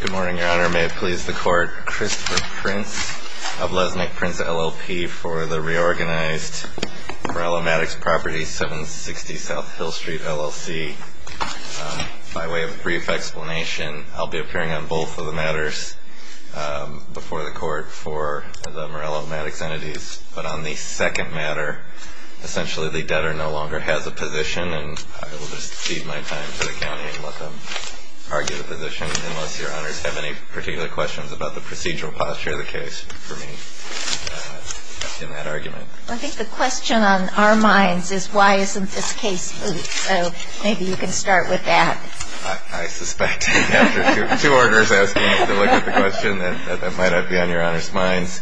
Good morning, Your Honor. May it please the Court, Christopher Prince of Lesmick, Prince LLP, for the reorganized Meruelo Maddux Properties, 760 South Hill Street, LLC. By way of a brief explanation, I'll be appearing on both of the matters before the Court for the Meruelo Maddux entities, but on the second matter, essentially the debtor no longer has a position and I will just cede my time to the County and let them argue the position, unless Your Honors have any particular questions about the procedural posture of the case for me in that argument. I think the question on our minds is why isn't this case moot, so maybe you can start with that. I suspect after two orders asking me to look at the question that that might not be on Your Honor's minds.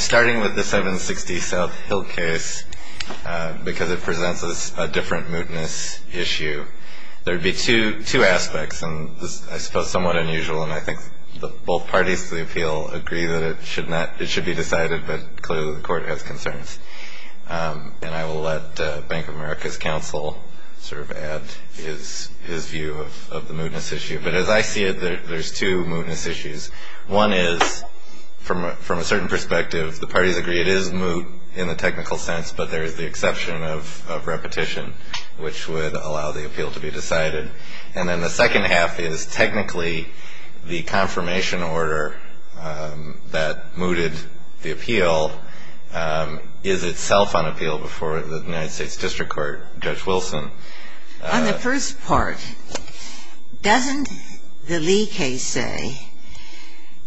Starting with the 760 South Hill case, because it presents us a different mootness issue, there would be two aspects, and I suppose somewhat unusual, and I think both parties to the appeal agree that it should be decided, but clearly the Court has concerns. And I will let Bank of America's counsel sort of add his view of the mootness issue. But as I see it, there's two mootness issues. One is, from a certain perspective, the parties agree it is moot in the technical sense, but there is the exception of repetition, which would allow the appeal to be decided. And then the second half is technically the confirmation order that mooted the appeal is itself on appeal before the United States District Court. Judge Wilson? On the first part, doesn't the Lee case say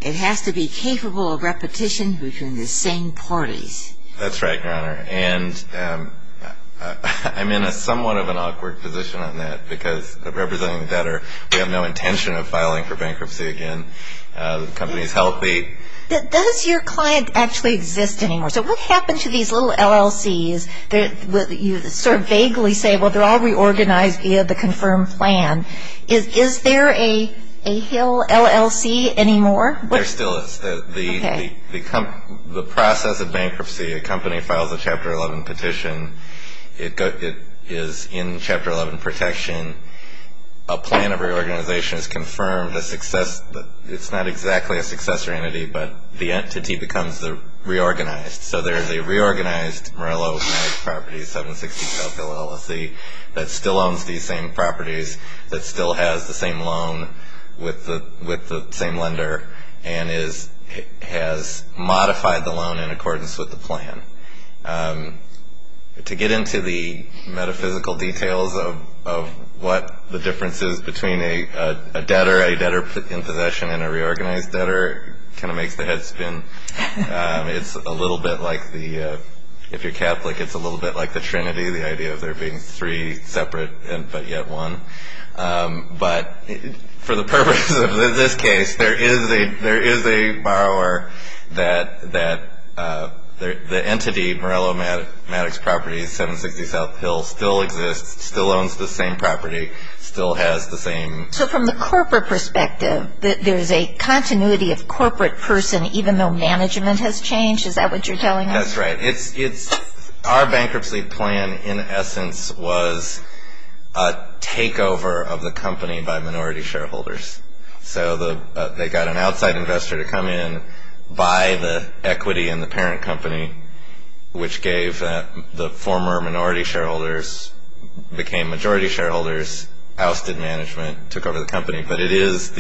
it has to be capable of repetition between the same parties? That's right, Your Honor. And I'm in a somewhat of an awkward position on that, because representing debtor, we have no intention of filing for bankruptcy again. The company is healthy. Does your client actually exist anymore? So what happens to these little LLCs that you sort of vaguely say, well, they're all reorganized via the confirmed plan? Is there a Hill LLC anymore? There still is. The process of bankruptcy, a company files a Chapter 11 petition. It is in Chapter 11 protection. A plan of reorganization is confirmed. It's not exactly a successor entity, but the entity becomes the reorganized. So there is a reorganized Morello House Property 760 South Hill LLC that still owns these same properties, that still has the same loan with the same lender, and has modified the loan in accordance with the plan. To get into the metaphysical details of what the difference is between a debtor, a debtor in possession and a reorganized debtor kind of makes the head spin. It's a little bit like the, if you're Catholic, it's a little bit like the Trinity, the idea of there being three separate but yet one. But for the purpose of this case, there is a borrower that the entity, Morello Maddox Properties 760 South Hill, still exists, still owns the same property, still has the same... So from the corporate perspective, there's a continuity of corporate person even though management has changed? Is that what you're telling us? That's right. Our bankruptcy plan in essence was a takeover of the company by minority shareholders. So they got an outside investor to come in, buy the equity in the parent company, which gave the former minority shareholders, became majority shareholders, ousted management, took over the company. But it is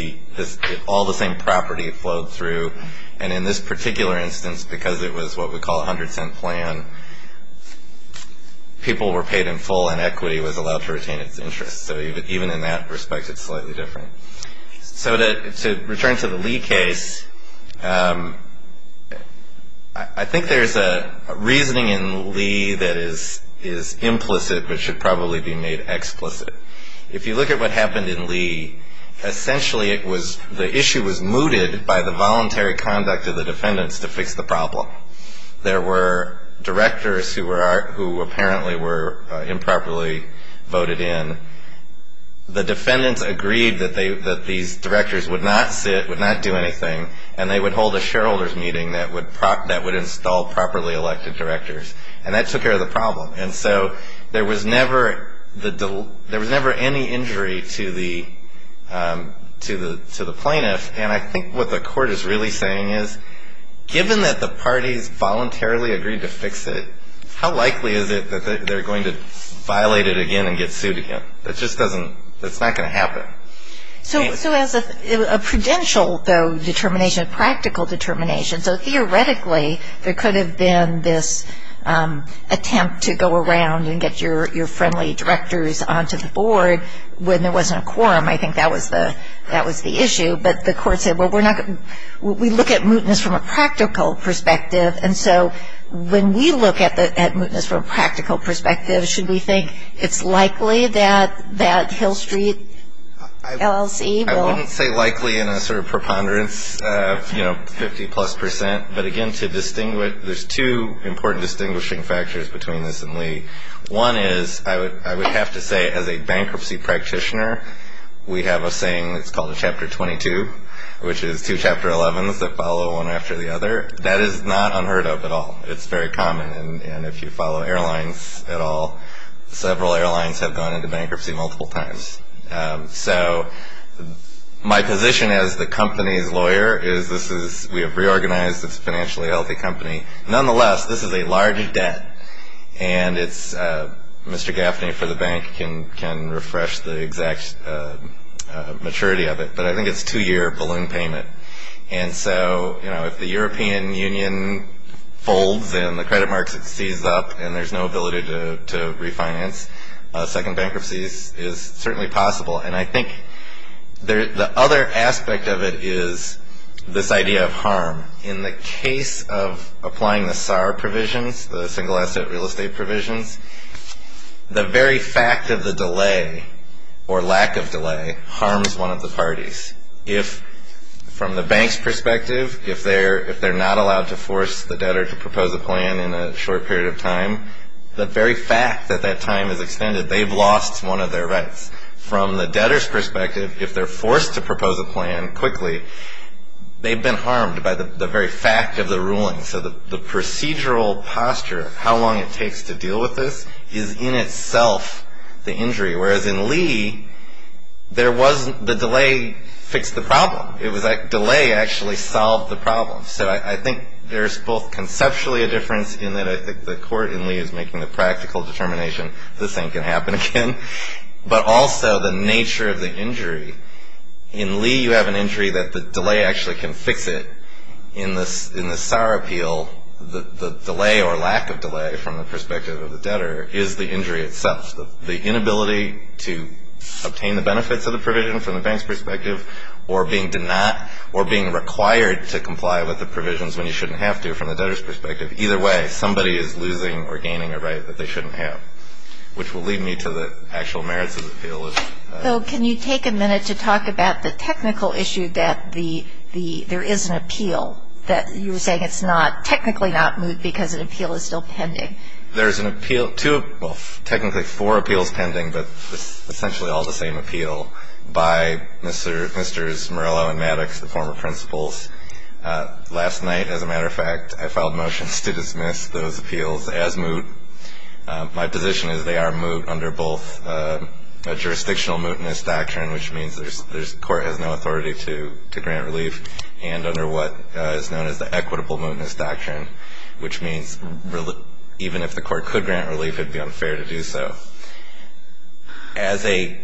all the same property flowed through. And in this particular instance, because it was what we call a hundred cent plan, people were paid in full and equity was allowed to retain its interest. So even in that respect, it's slightly different. So to return to the Lee case, I think there's a reasoning in Lee that is implicit but should probably be made explicit. If you look at what happened in Lee, essentially the issue was mooted by the voluntary conduct of the defendants to fix the problem. There were directors who apparently were improperly voted in. The defendants agreed that these directors would not sit, would not do anything, and they would hold a shareholders meeting that would install properly elected directors. And that took care of the problem. And so there was never any injury to the plaintiff. And I think what the court is really saying is given that the parties voluntarily agreed to fix it, how likely is it that they're going to violate it again and get sued again? That just doesn't, that's not going to happen. So as a prudential, though, determination, a practical determination, so theoretically there could have been this attempt to go around and get your friendly directors onto the board when there wasn't a quorum. I think that was the issue. But the court said, well, we look at mootness from a practical perspective. And so when we look at mootness from a practical perspective, should we think it's likely that Hill Street LLC will? I wouldn't say likely in a sort of preponderance, you know, 50 plus percent. But again, to distinguish, there's two important distinguishing factors between this and Lee. One is I would have to say as a bankruptcy practitioner, we have a saying that's called a Chapter 22, which is two Chapter 11s that follow one after the other. That is not unheard of at all. It's very common. And if you follow airlines at all, several airlines have gone into bankruptcy multiple times. So my position as the company's lawyer is this is, we have reorganized, it's a financially healthy company. Nonetheless, this is a large debt. And it's, Mr. Gaffney for the bank can refresh the exact maturity of it. But I think it's a two-year balloon payment. And so, you know, if the European Union folds and the credit market sees up and there's no ability to refinance, a second bankruptcy is certainly possible. And I think the other aspect of it is this idea of harm. In the case of applying the SAR provisions, the single asset real estate provisions, the very fact of the delay or lack of delay harms one of the parties. If from the bank's perspective, if they're not allowed to force the debtor to propose a plan in a short period of time, the very fact that that time is extended, they've lost one of their rights. From the debtor's perspective, if they're forced to propose a plan quickly, they've been harmed by the very fact of the ruling. So the procedural posture of how long it takes to deal with this is in itself the injury. Whereas in Lee, there wasn't, the delay fixed the problem. It was that delay actually solved the problem. So I think there's both conceptually a difference in that I think the court in Lee is making the practical determination this ain't going to happen again, but also the nature of the injury. In Lee, you have an injury that the delay actually can fix it. In the SAR appeal, the delay or lack of delay from the perspective of the debtor is the injury itself. The inability to obtain the benefits of the provision from the bank's perspective or being denied or the provisions when you shouldn't have to from the debtor's perspective, either way, somebody is losing or gaining a right that they shouldn't have, which will lead me to the actual merits of the appeal. So can you take a minute to talk about the technical issue that the, there is an appeal that you were saying it's not, technically not moved because an appeal is still pending. There's an appeal, two, well technically four appeals pending, but essentially all the same appeal by Mr., Mr. Morello and Maddox, the former principals. Last night, as a matter of fact, I filed motions to dismiss those appeals as moot. My position is they are moot under both a jurisdictional mootness doctrine, which means there's, there's court has no authority to, to grant relief and under what is known as the equitable mootness doctrine, which means even if the court could grant relief, it'd be unfair to do so. As a,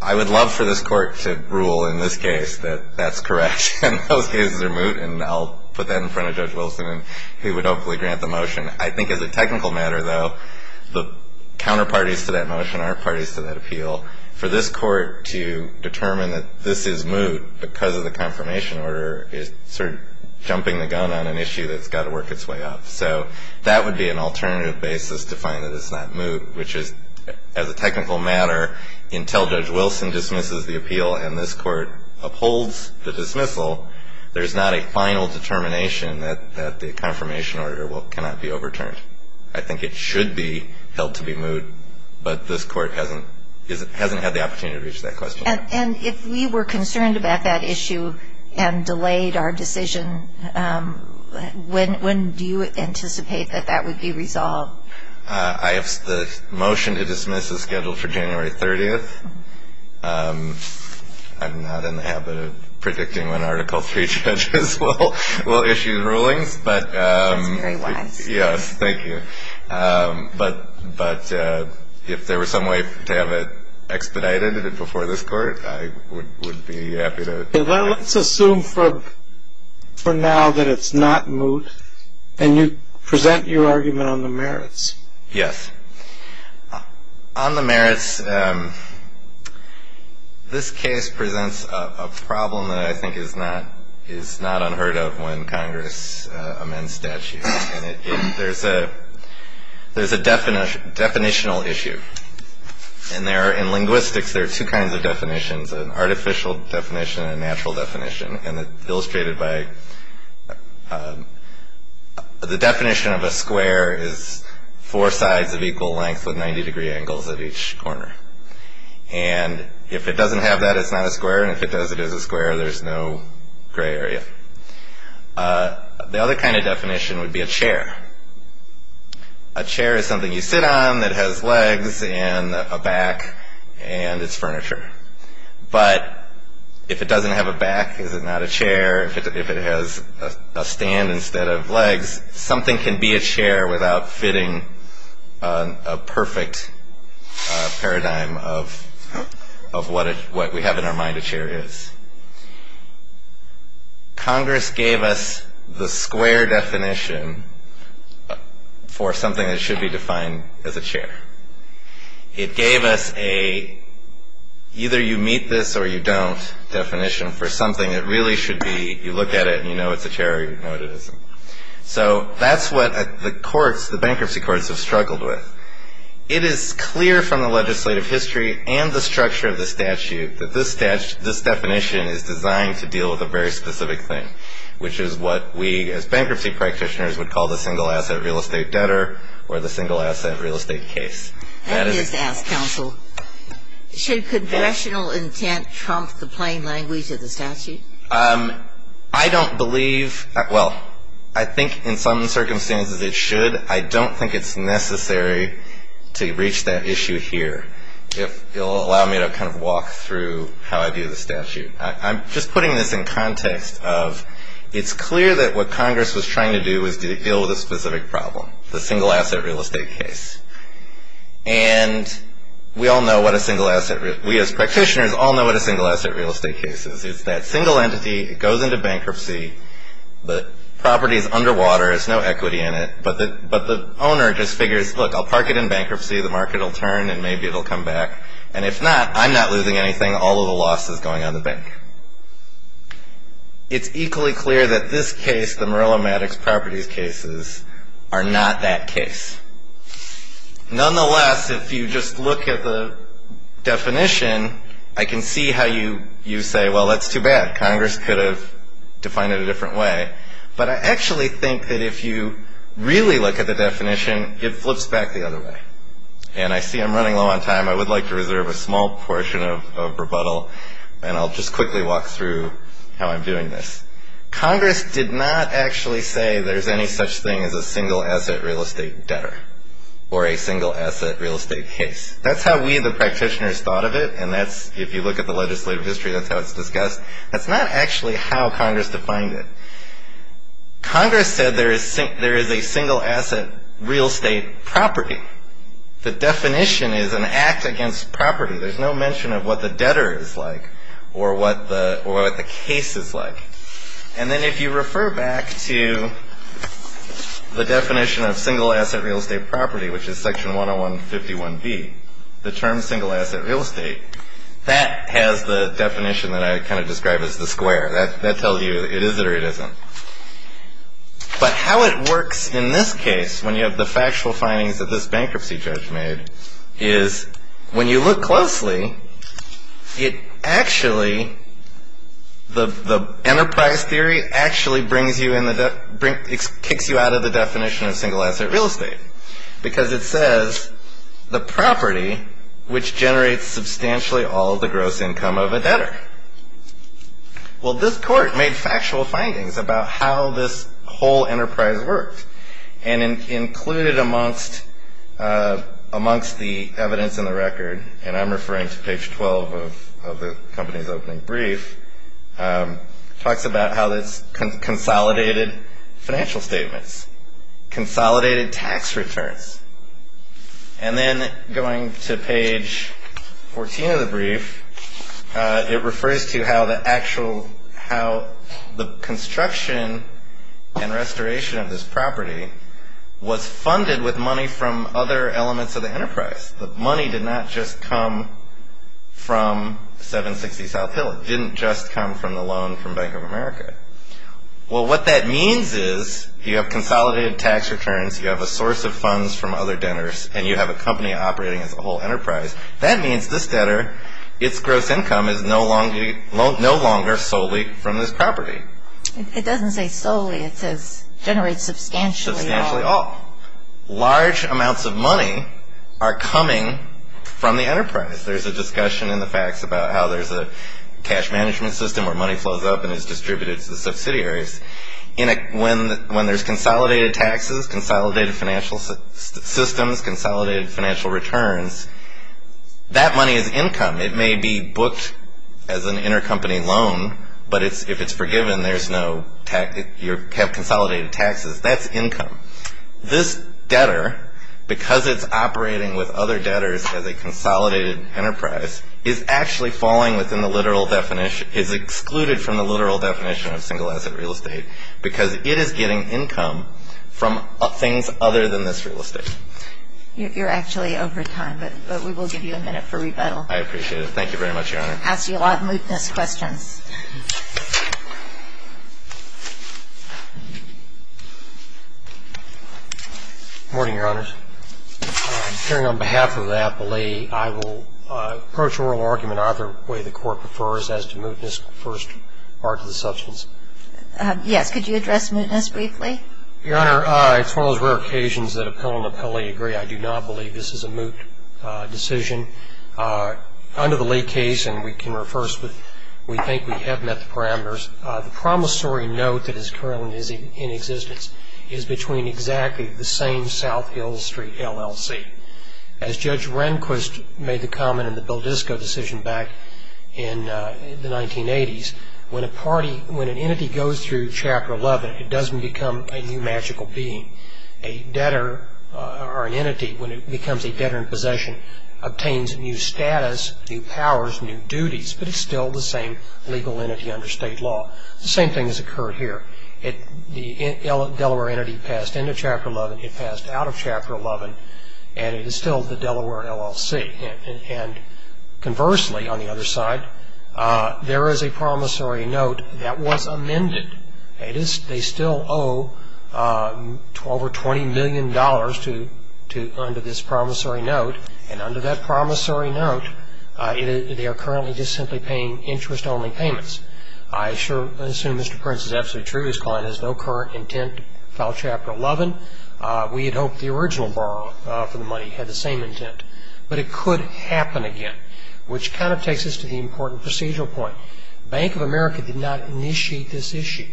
I would love for this court to rule in this case that that's correct and those cases are moot and I'll put that in front of Judge Wilson and he would hopefully grant the motion. I think as a technical matter, though, the counterparties to that motion are parties to that appeal. For this court to determine that this is moot because of the confirmation order is sort of jumping the gun on an issue that's got to work its way up. So that would be an alternative basis to find that it's not moot, which is as a technical matter, until Judge Wilson dismisses the appeal and this court upholds the dismissal, there's not a final determination that, that the confirmation order will, cannot be overturned. I think it should be held to be moot, but this court hasn't, hasn't had the opportunity to reach that question. And if we were concerned about that issue and delayed our decision, when, when do you anticipate that that would be resolved? I have, the motion to dismiss is scheduled for January 30th. I'm not in the habit of predicting when Article III judges will, will issue rulings, but, yes, thank you. But, but if there was some way to have it expedited before this court, I would, would be happy to. Well, let's assume for, for now that it's not moot and you present your argument on the merits. Yes. On the merits, this case presents a problem that I think is not, is not unheard of when Congress amends statutes. There's a, there's a definition, definitional issue. And there, in linguistics, there are two kinds of definitions, an artificial definition and a natural definition. And illustrated by the definition of a square is four sides of equal length with 90 degree angles at each corner. And if it doesn't have that, it's not a square. And if it does, it is a square. There's no gray area. The other kind of definition would be a chair. A chair is something you sit on that has legs and a back and it's furniture. But if it doesn't have a back, is it not a chair? If it has a stand instead of legs, something can be a chair without fitting a perfect paradigm of, of what, what we have in our mind a chair is. And Congress gave us the square definition for something that should be defined as a chair. It gave us a, either you meet this or you don't definition for something that really should be, you look at it and you know it's a chair or you know what it isn't. So that's what the courts, the bankruptcy courts have struggled with. It is clear from the legislative history and the structure of the statute that this definition is designed to deal with a very specific thing, which is what we as bankruptcy practitioners would call the single asset real estate debtor or the single asset real estate case. Let me just ask counsel, should congressional intent trump the plain language of the statute? I don't believe, well, I think in some circumstances it should. I don't think it's necessary to reach that issue here. If you'll allow me to kind of walk through how I view the statute, I'm just putting this in context of, it's clear that what Congress was trying to do is to deal with a specific problem, the single asset real estate case. And we all know what a single asset, we as practitioners all know what a single asset real estate case is. It's that single entity, it goes into bankruptcy, the property is underwater, there's no equity in it, but the, but the owner just figures, look, I'll park it in bankruptcy, the property will come back, and if not, I'm not losing anything, all of the loss is going on the bank. It's equally clear that this case, the Murillo-Maddox properties cases, are not that case. Nonetheless, if you just look at the definition, I can see how you say, well, that's too bad, Congress could have defined it a different way. But I actually think that if you really look at the definition, it flips back the other way. And I see I'm running low on time, I would like to reserve a small portion of rebuttal, and I'll just quickly walk through how I'm doing this. Congress did not actually say there's any such thing as a single asset real estate debtor, or a single asset real estate case. That's how we, the practitioners, thought of it, and that's, if you look at the legislative history, that's how it's discussed. That's not actually how Congress defined it. Congress said there is a single asset real estate property. The definition is an act against property. There's no mention of what the debtor is like, or what the case is like. And then if you refer back to the definition of single asset real estate property, which is Section 10151B, the term single asset real estate, that has the definition that I kind of describe as the square. That tells you it is or it isn't. But how it works in this case, when you have the factual findings that this bankruptcy judge made, is when you look closely, it actually, the enterprise theory, actually brings you in the, kicks you out of the definition of single asset real estate, because it says the property which generates substantially all the gross income of a debtor. Well, this court made factual findings about how this whole enterprise worked and included amongst the evidence in the record, and I'm referring to page 12 of the company's opening brief, talks about how this consolidated financial statements, consolidated tax returns. And then going to page 14 of the brief, it refers to how the actual, how the construction and restoration of this property was funded with money from other elements of the enterprise. The money did not just come from 760 South Hill. It didn't just come from the loan from Bank of America. Well, what that means is you have consolidated tax returns. You have a source of funds from other debtors, and you have a company operating as a whole enterprise. That means this debtor, its gross income is no longer solely from this property. It doesn't say solely. It says generates substantially all. Large amounts of money are coming from the enterprise. There's a discussion in the facts about how there's a cash management system where money flows up and is distributed to the subsidiaries. And when there's consolidated taxes, consolidated financial systems, consolidated financial returns, that money is income. It may be booked as an intercompany loan, but if it's forgiven, you have consolidated taxes. That's income. This debtor, because it's operating with other debtors as a consolidated enterprise, is actually falling within the literal definition, is excluded from the literal definition of single-asset real estate because it is getting income from things other than this real estate. You're actually over time, but we will give you a minute for rebuttal. I appreciate it. Thank you very much, Your Honor. Asked you a lot of mootness questions. Good morning, Your Honors. Hearing on behalf of the appellee, I will approach oral argument either way the court prefers as to mootness first part of the substance. Yes. Could you address mootness briefly? Your Honor, it's one of those rare occasions that appellant and appellee agree. I do not believe this is a moot decision. Under the Lee case, and we can refer, we think we have met the parameters, the promissory note that is currently in existence is between exactly the same South Hill Street LLC. As Judge Rehnquist made the comment in the Beldisco decision back in the 1980s, when a party, when an entity goes through Chapter 11, it doesn't become a new magical being. A debtor or an entity, when it becomes a debtor in possession, obtains new status, new powers, new duties, but it's still the same legal entity under state law. The same thing has occurred here. The Delaware entity passed into Chapter 11, it passed out of Chapter 11, and it is still the Delaware LLC. And conversely, on the other side, there is a promissory note that was amended. They still owe over $20 million under this promissory note, and under that promissory note, they are currently just simply paying interest-only payments. I sure assume Mr. Prince is absolutely true. He's calling this no current intent to file Chapter 11. We had hoped the original borrower for the money had the same intent, but it could happen again, which kind of takes us to the important procedural point. Bank of America did not initiate this issue.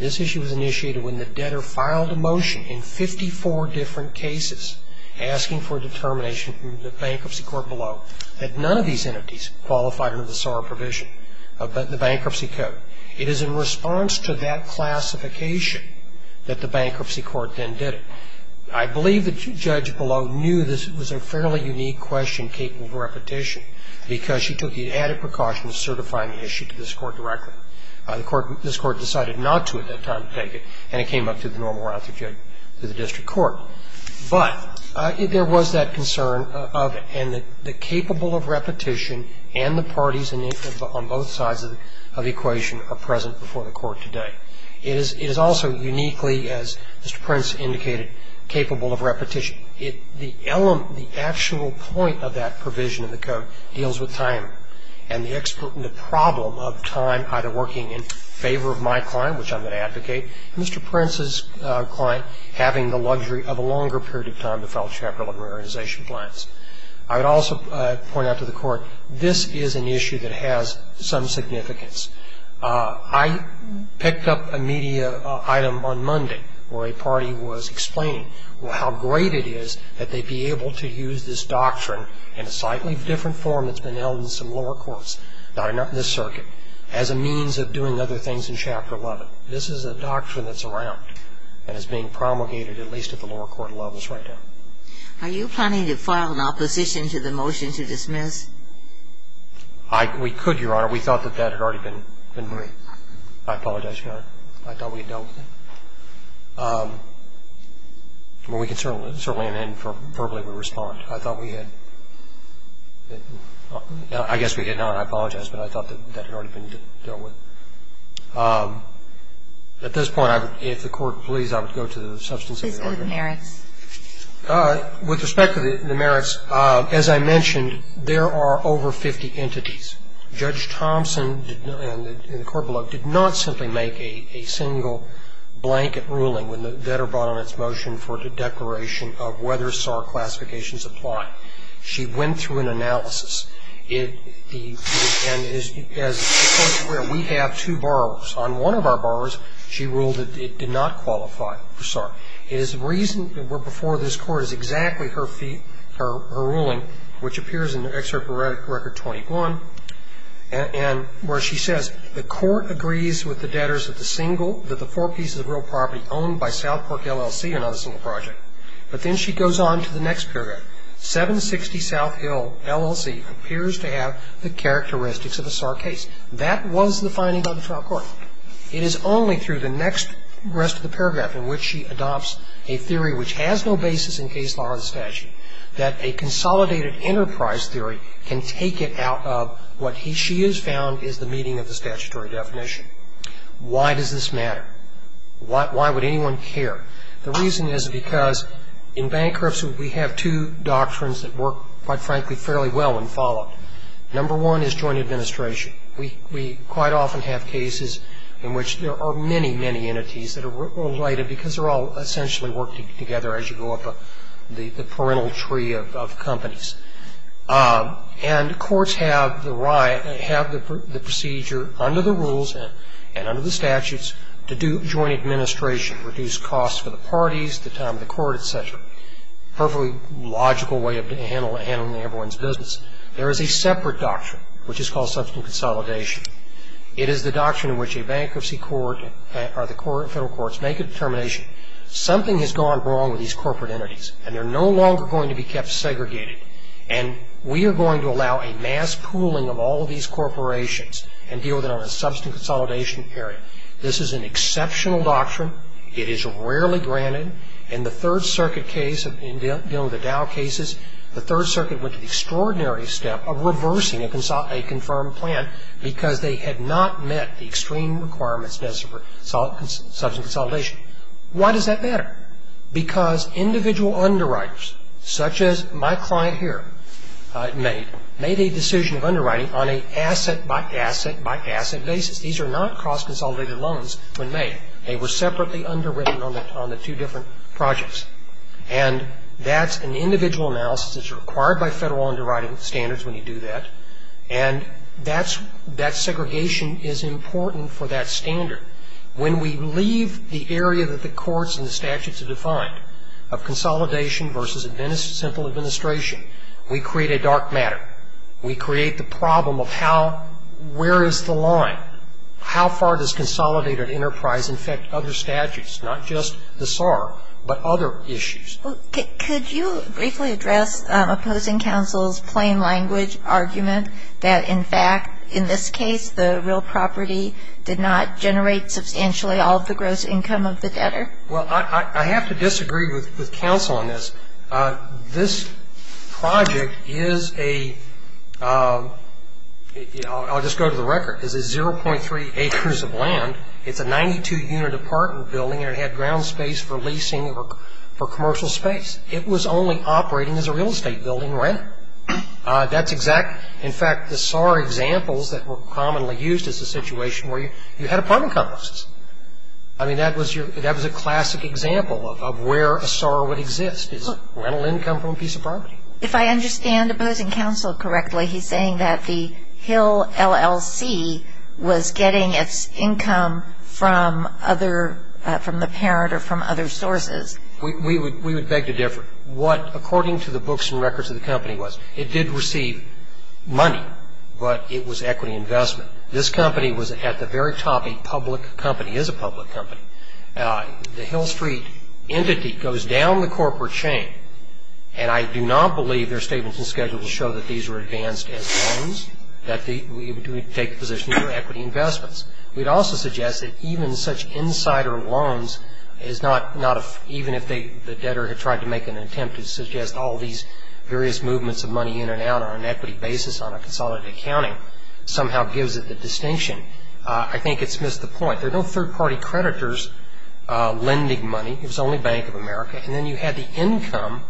This issue was initiated when the debtor filed a motion in 54 different cases asking for determination from the bankruptcy court below that none of these entities qualified under the SORA provision, but the bankruptcy code. It is in response to that classification that the bankruptcy court then did it. I believe the judge below knew this was a fairly unique question capable of repetition because she took the added precaution of certifying the issue to this court directly. The court, this court decided not to at that time to take it, and it came up through the normal route through the district court. But there was that concern of, and the capable of repetition and the parties on both sides of the equation are present before the court today. It is also uniquely, as Mr. Prince indicated, capable of repetition. The actual point of that provision of the code deals with time and the problem of time either working in favor of my client, which I'm going to advocate, and Mr. Prince is going to have a longer period of time to file Chapter 11 reorganization plans. I would also point out to the court, this is an issue that has some significance. I picked up a media item on Monday where a party was explaining how great it is that they'd be able to use this doctrine in a slightly different form that's been held in some lower courts, not in this circuit, as a means of doing other things in Chapter 11. This is a doctrine that's around and is being promulgated at least at the lower court levels right now. Are you planning to file an opposition to the motion to dismiss? We could, Your Honor. We thought that that had already been done. I apologize, Your Honor. I thought we had dealt with it. Well, we can certainly, certainly, verbally respond. I thought we had, I guess we did not. I apologize, but I thought that that had already been dealt with. At this point, if the court please, I would go to the substance of the argument. Please go to the merits. With respect to the merits, as I mentioned, there are over 50 entities. Judge Thompson, in the court below, did not simply make a single blanket ruling when the debtor brought on its motion for the declaration of whether SAR classifications apply. She went through an analysis, and as the court is aware, we have two borrowers. On one of our borrowers, she ruled that it did not qualify for SAR. It is reasoned that before this court is exactly her ruling, which appears in Excerpt of Record 21, and where she says, the court agrees with the debtors that the four pieces of real property owned by South Park LLC are not a single project. But then she goes on to the next paragraph. 760 South Hill LLC appears to have the characteristics of a SAR case. That was the finding by the trial court. It is only through the next rest of the paragraph in which she adopts a theory which has no basis in case law as a statute, that a consolidated enterprise theory can take it out of what she has found is the meeting of the statutory definition. Why does this matter? Why would anyone care? The reason is because in bankruptcy, we have two doctrines that work, quite frankly, fairly well when followed. Number one is joint administration. We quite often have cases in which there are many, many entities that are related because they're all essentially working together as you go up the parental tree of companies. And courts have the procedure under the rules and under the statutes to do joint administration, reduce costs for the parties, the time of the court, et cetera. Perfectly logical way of handling everyone's business. There is a separate doctrine, which is called substance consolidation. It is the doctrine in which a bankruptcy court or the federal courts make a determination, something has gone wrong with these corporate entities, and they're no longer going to be kept segregated, and we are going to allow a mass pooling of all of these corporations and deal with it on a substance consolidation area. This is an exceptional doctrine. It is rarely granted. In the Third Circuit case, in dealing with the Dow cases, the Third Circuit went to the extraordinary step of reversing a confirmed plan because they had not met the extreme requirements of substance consolidation. Why does that matter? Because individual underwriters, such as my client here made, made a decision of underwriting on an asset by asset by asset basis. These are not cross-consolidated loans when made. They were separately underwritten on the two different projects. And that's an individual analysis that's required by federal underwriting standards when you do that. And that's, that segregation is important for that standard. When we leave the area that the courts and the statutes have defined of consolidation versus simple administration, we create a dark matter. We create the problem of how, where is the line? How far does consolidated enterprise affect other statutes, not just the SAR, but other issues? Well, could you briefly address opposing counsel's plain language argument that, in fact, in this case, the real property did not generate substantially all of the gross income of the debtor? Well, I have to disagree with counsel on this. This project is a, I'll just go to the record, is a 0.3 acres of land. It's a 92-unit apartment building, and it had ground space for leasing or for commercial space. It was only operating as a real estate building, right? That's exact, in fact, the SAR examples that were commonly used as a situation where you had apartment complexes. I mean, that was your, that was a classic example of where a SAR would exist, is rental income from a piece of property. If I understand opposing counsel correctly, he's saying that the Hill LLC was getting its income from other, from the parent or from other sources. We would beg to differ. What, according to the books and records of the company was, it did receive money, but it was equity investment. This company was at the very top a public company, is a public company. The Hill Street entity goes down the corporate chain, and I do not believe their statements in the schedule will show that these were advanced as loans, that we would take the position they were equity investments. We'd also suggest that even such insider loans is not, not a, even if the debtor had tried to make an attempt to suggest all these various movements of money in and out on an equity basis on a consolidated accounting, somehow gives it the distinction. I think it's missed the point. There are no third-party creditors lending money. It was only Bank of America, and then you had the income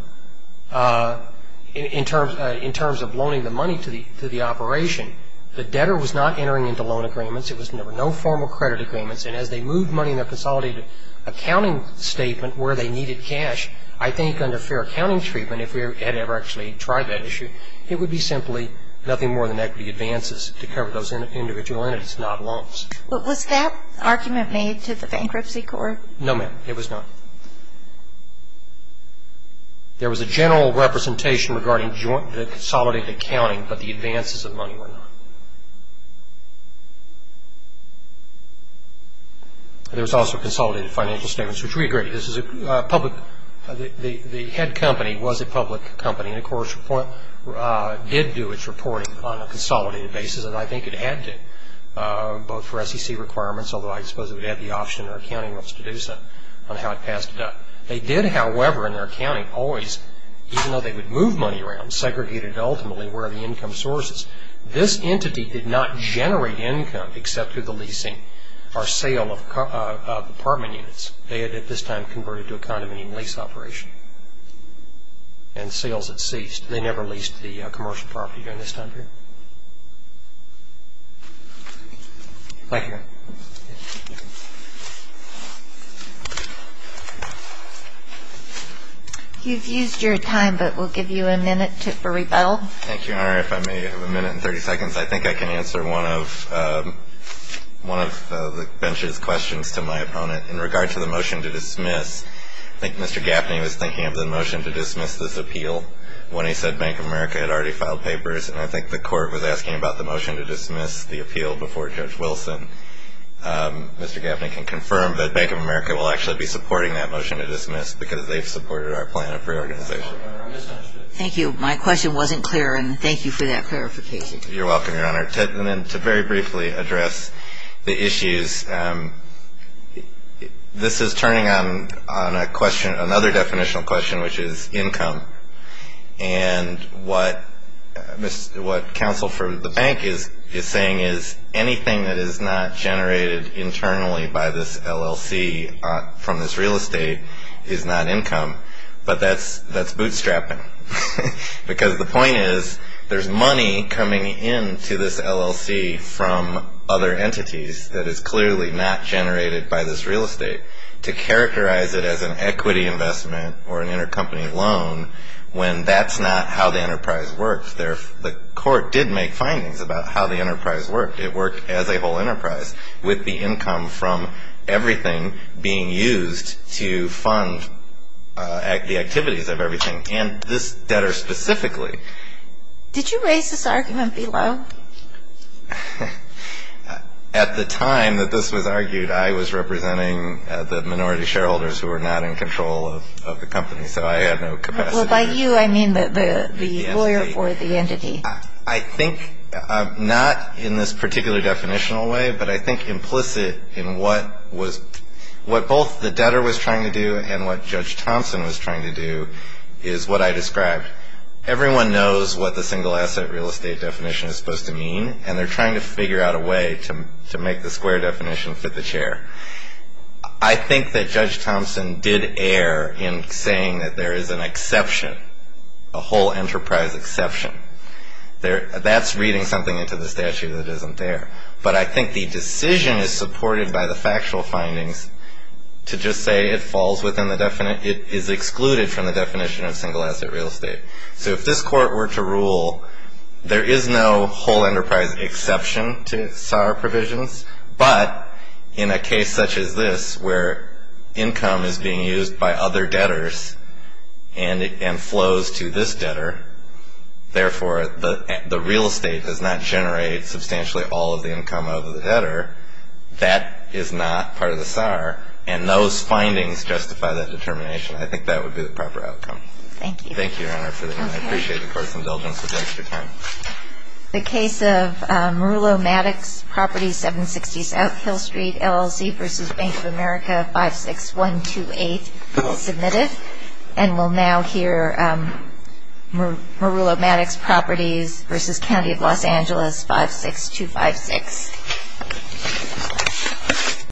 in terms of loaning the money to the operation. The debtor was not entering into loan agreements. There were no formal credit agreements, and as they moved money in a consolidated accounting statement where they needed cash, I think under fair accounting treatment, if we had ever actually tried that issue, it would be simply nothing more than equity advances to cover those individual entities, not loans. But was that argument made to the bankruptcy court? No, ma'am. It was not. There was a general representation regarding joint consolidated accounting, but the advances of money were not. There was also consolidated financial statements, which we agree. This is a public, the head company was a public company, and of course, did do its reporting on a consolidated basis, and I think it had to, both for SEC requirements, although I suppose it would have the option in our accounting rights to do so on how it passed it up. They did, however, in their accounting, always, even though they would move money around, segregated ultimately where the income source is. This entity did not generate income except through the leasing or sale of apartment units. They had, at this time, converted to a condominium lease operation, and sales had ceased. They never leased the commercial property during this time period. Thank you. You've used your time, but we'll give you a minute for rebuttal. Thank you. All right. If I may, I have a minute and 30 seconds. I think I can answer one of, one of the bench's questions to my opponent. In regard to the motion to dismiss, I think Mr. Gaffney was thinking of the motion to dismiss this appeal when he said Bank of America had already filed papers, and I think the court was asking about the motion to dismiss the appeal before Judge Wilson. Mr. Gaffney can confirm that Bank of America will actually be supporting that motion to dismiss because they've supported our plan of reorganization. Thank you. My question wasn't clear, and thank you for that clarification. You're welcome, Your Honor. And then to very briefly address the issues, this is turning on a question, another definitional question, which is income. And what counsel for the bank is saying is anything that is not generated internally by this LLC from this real estate is not income, but that's bootstrapping. Because the point is, there's money coming into this LLC from other entities that is clearly not generated by this real estate to characterize it as an equity investment or an intercompany loan when that's not how the enterprise works. The court did make findings about how the enterprise worked. It worked as a whole enterprise with the income from everything being used to fund the activities of everything. And this debtor specifically. Did you raise this argument below? At the time that this was argued, I was representing the minority shareholders who were not in control of the company, so I had no capacity. Well, by you, I mean the lawyer for the entity. I think not in this particular definitional way, but I think implicit in what was, what both the debtor was trying to do and what Judge Thompson was trying to do is what I described. Everyone knows what the single asset real estate definition is supposed to mean, and they're trying to figure out a way to make the square definition fit the chair. I think that Judge Thompson did err in saying that there is an exception, a whole enterprise exception. That's reading something into the statute that isn't there. But I think the decision is supported by the factual findings to just say it falls within the definition, it is excluded from the definition of single asset real estate. So if this court were to rule there is no whole enterprise exception to SAR provisions, but in a case such as this where income is being used by other debtors and flows to this debtor, therefore the real estate does not generate substantially all of the income of the debtor, that is not part of the SAR, and those findings justify that determination. I think that would be the proper outcome. Thank you. Thank you, Your Honor, for the, I appreciate the court's indulgence with the extra time. The case of Merulo Maddox, Property 760 South Hill Street, LLC, versus Bank of America 56128 is submitted. And we'll now hear Merulo Maddox, Properties, versus County of Los Angeles 56256.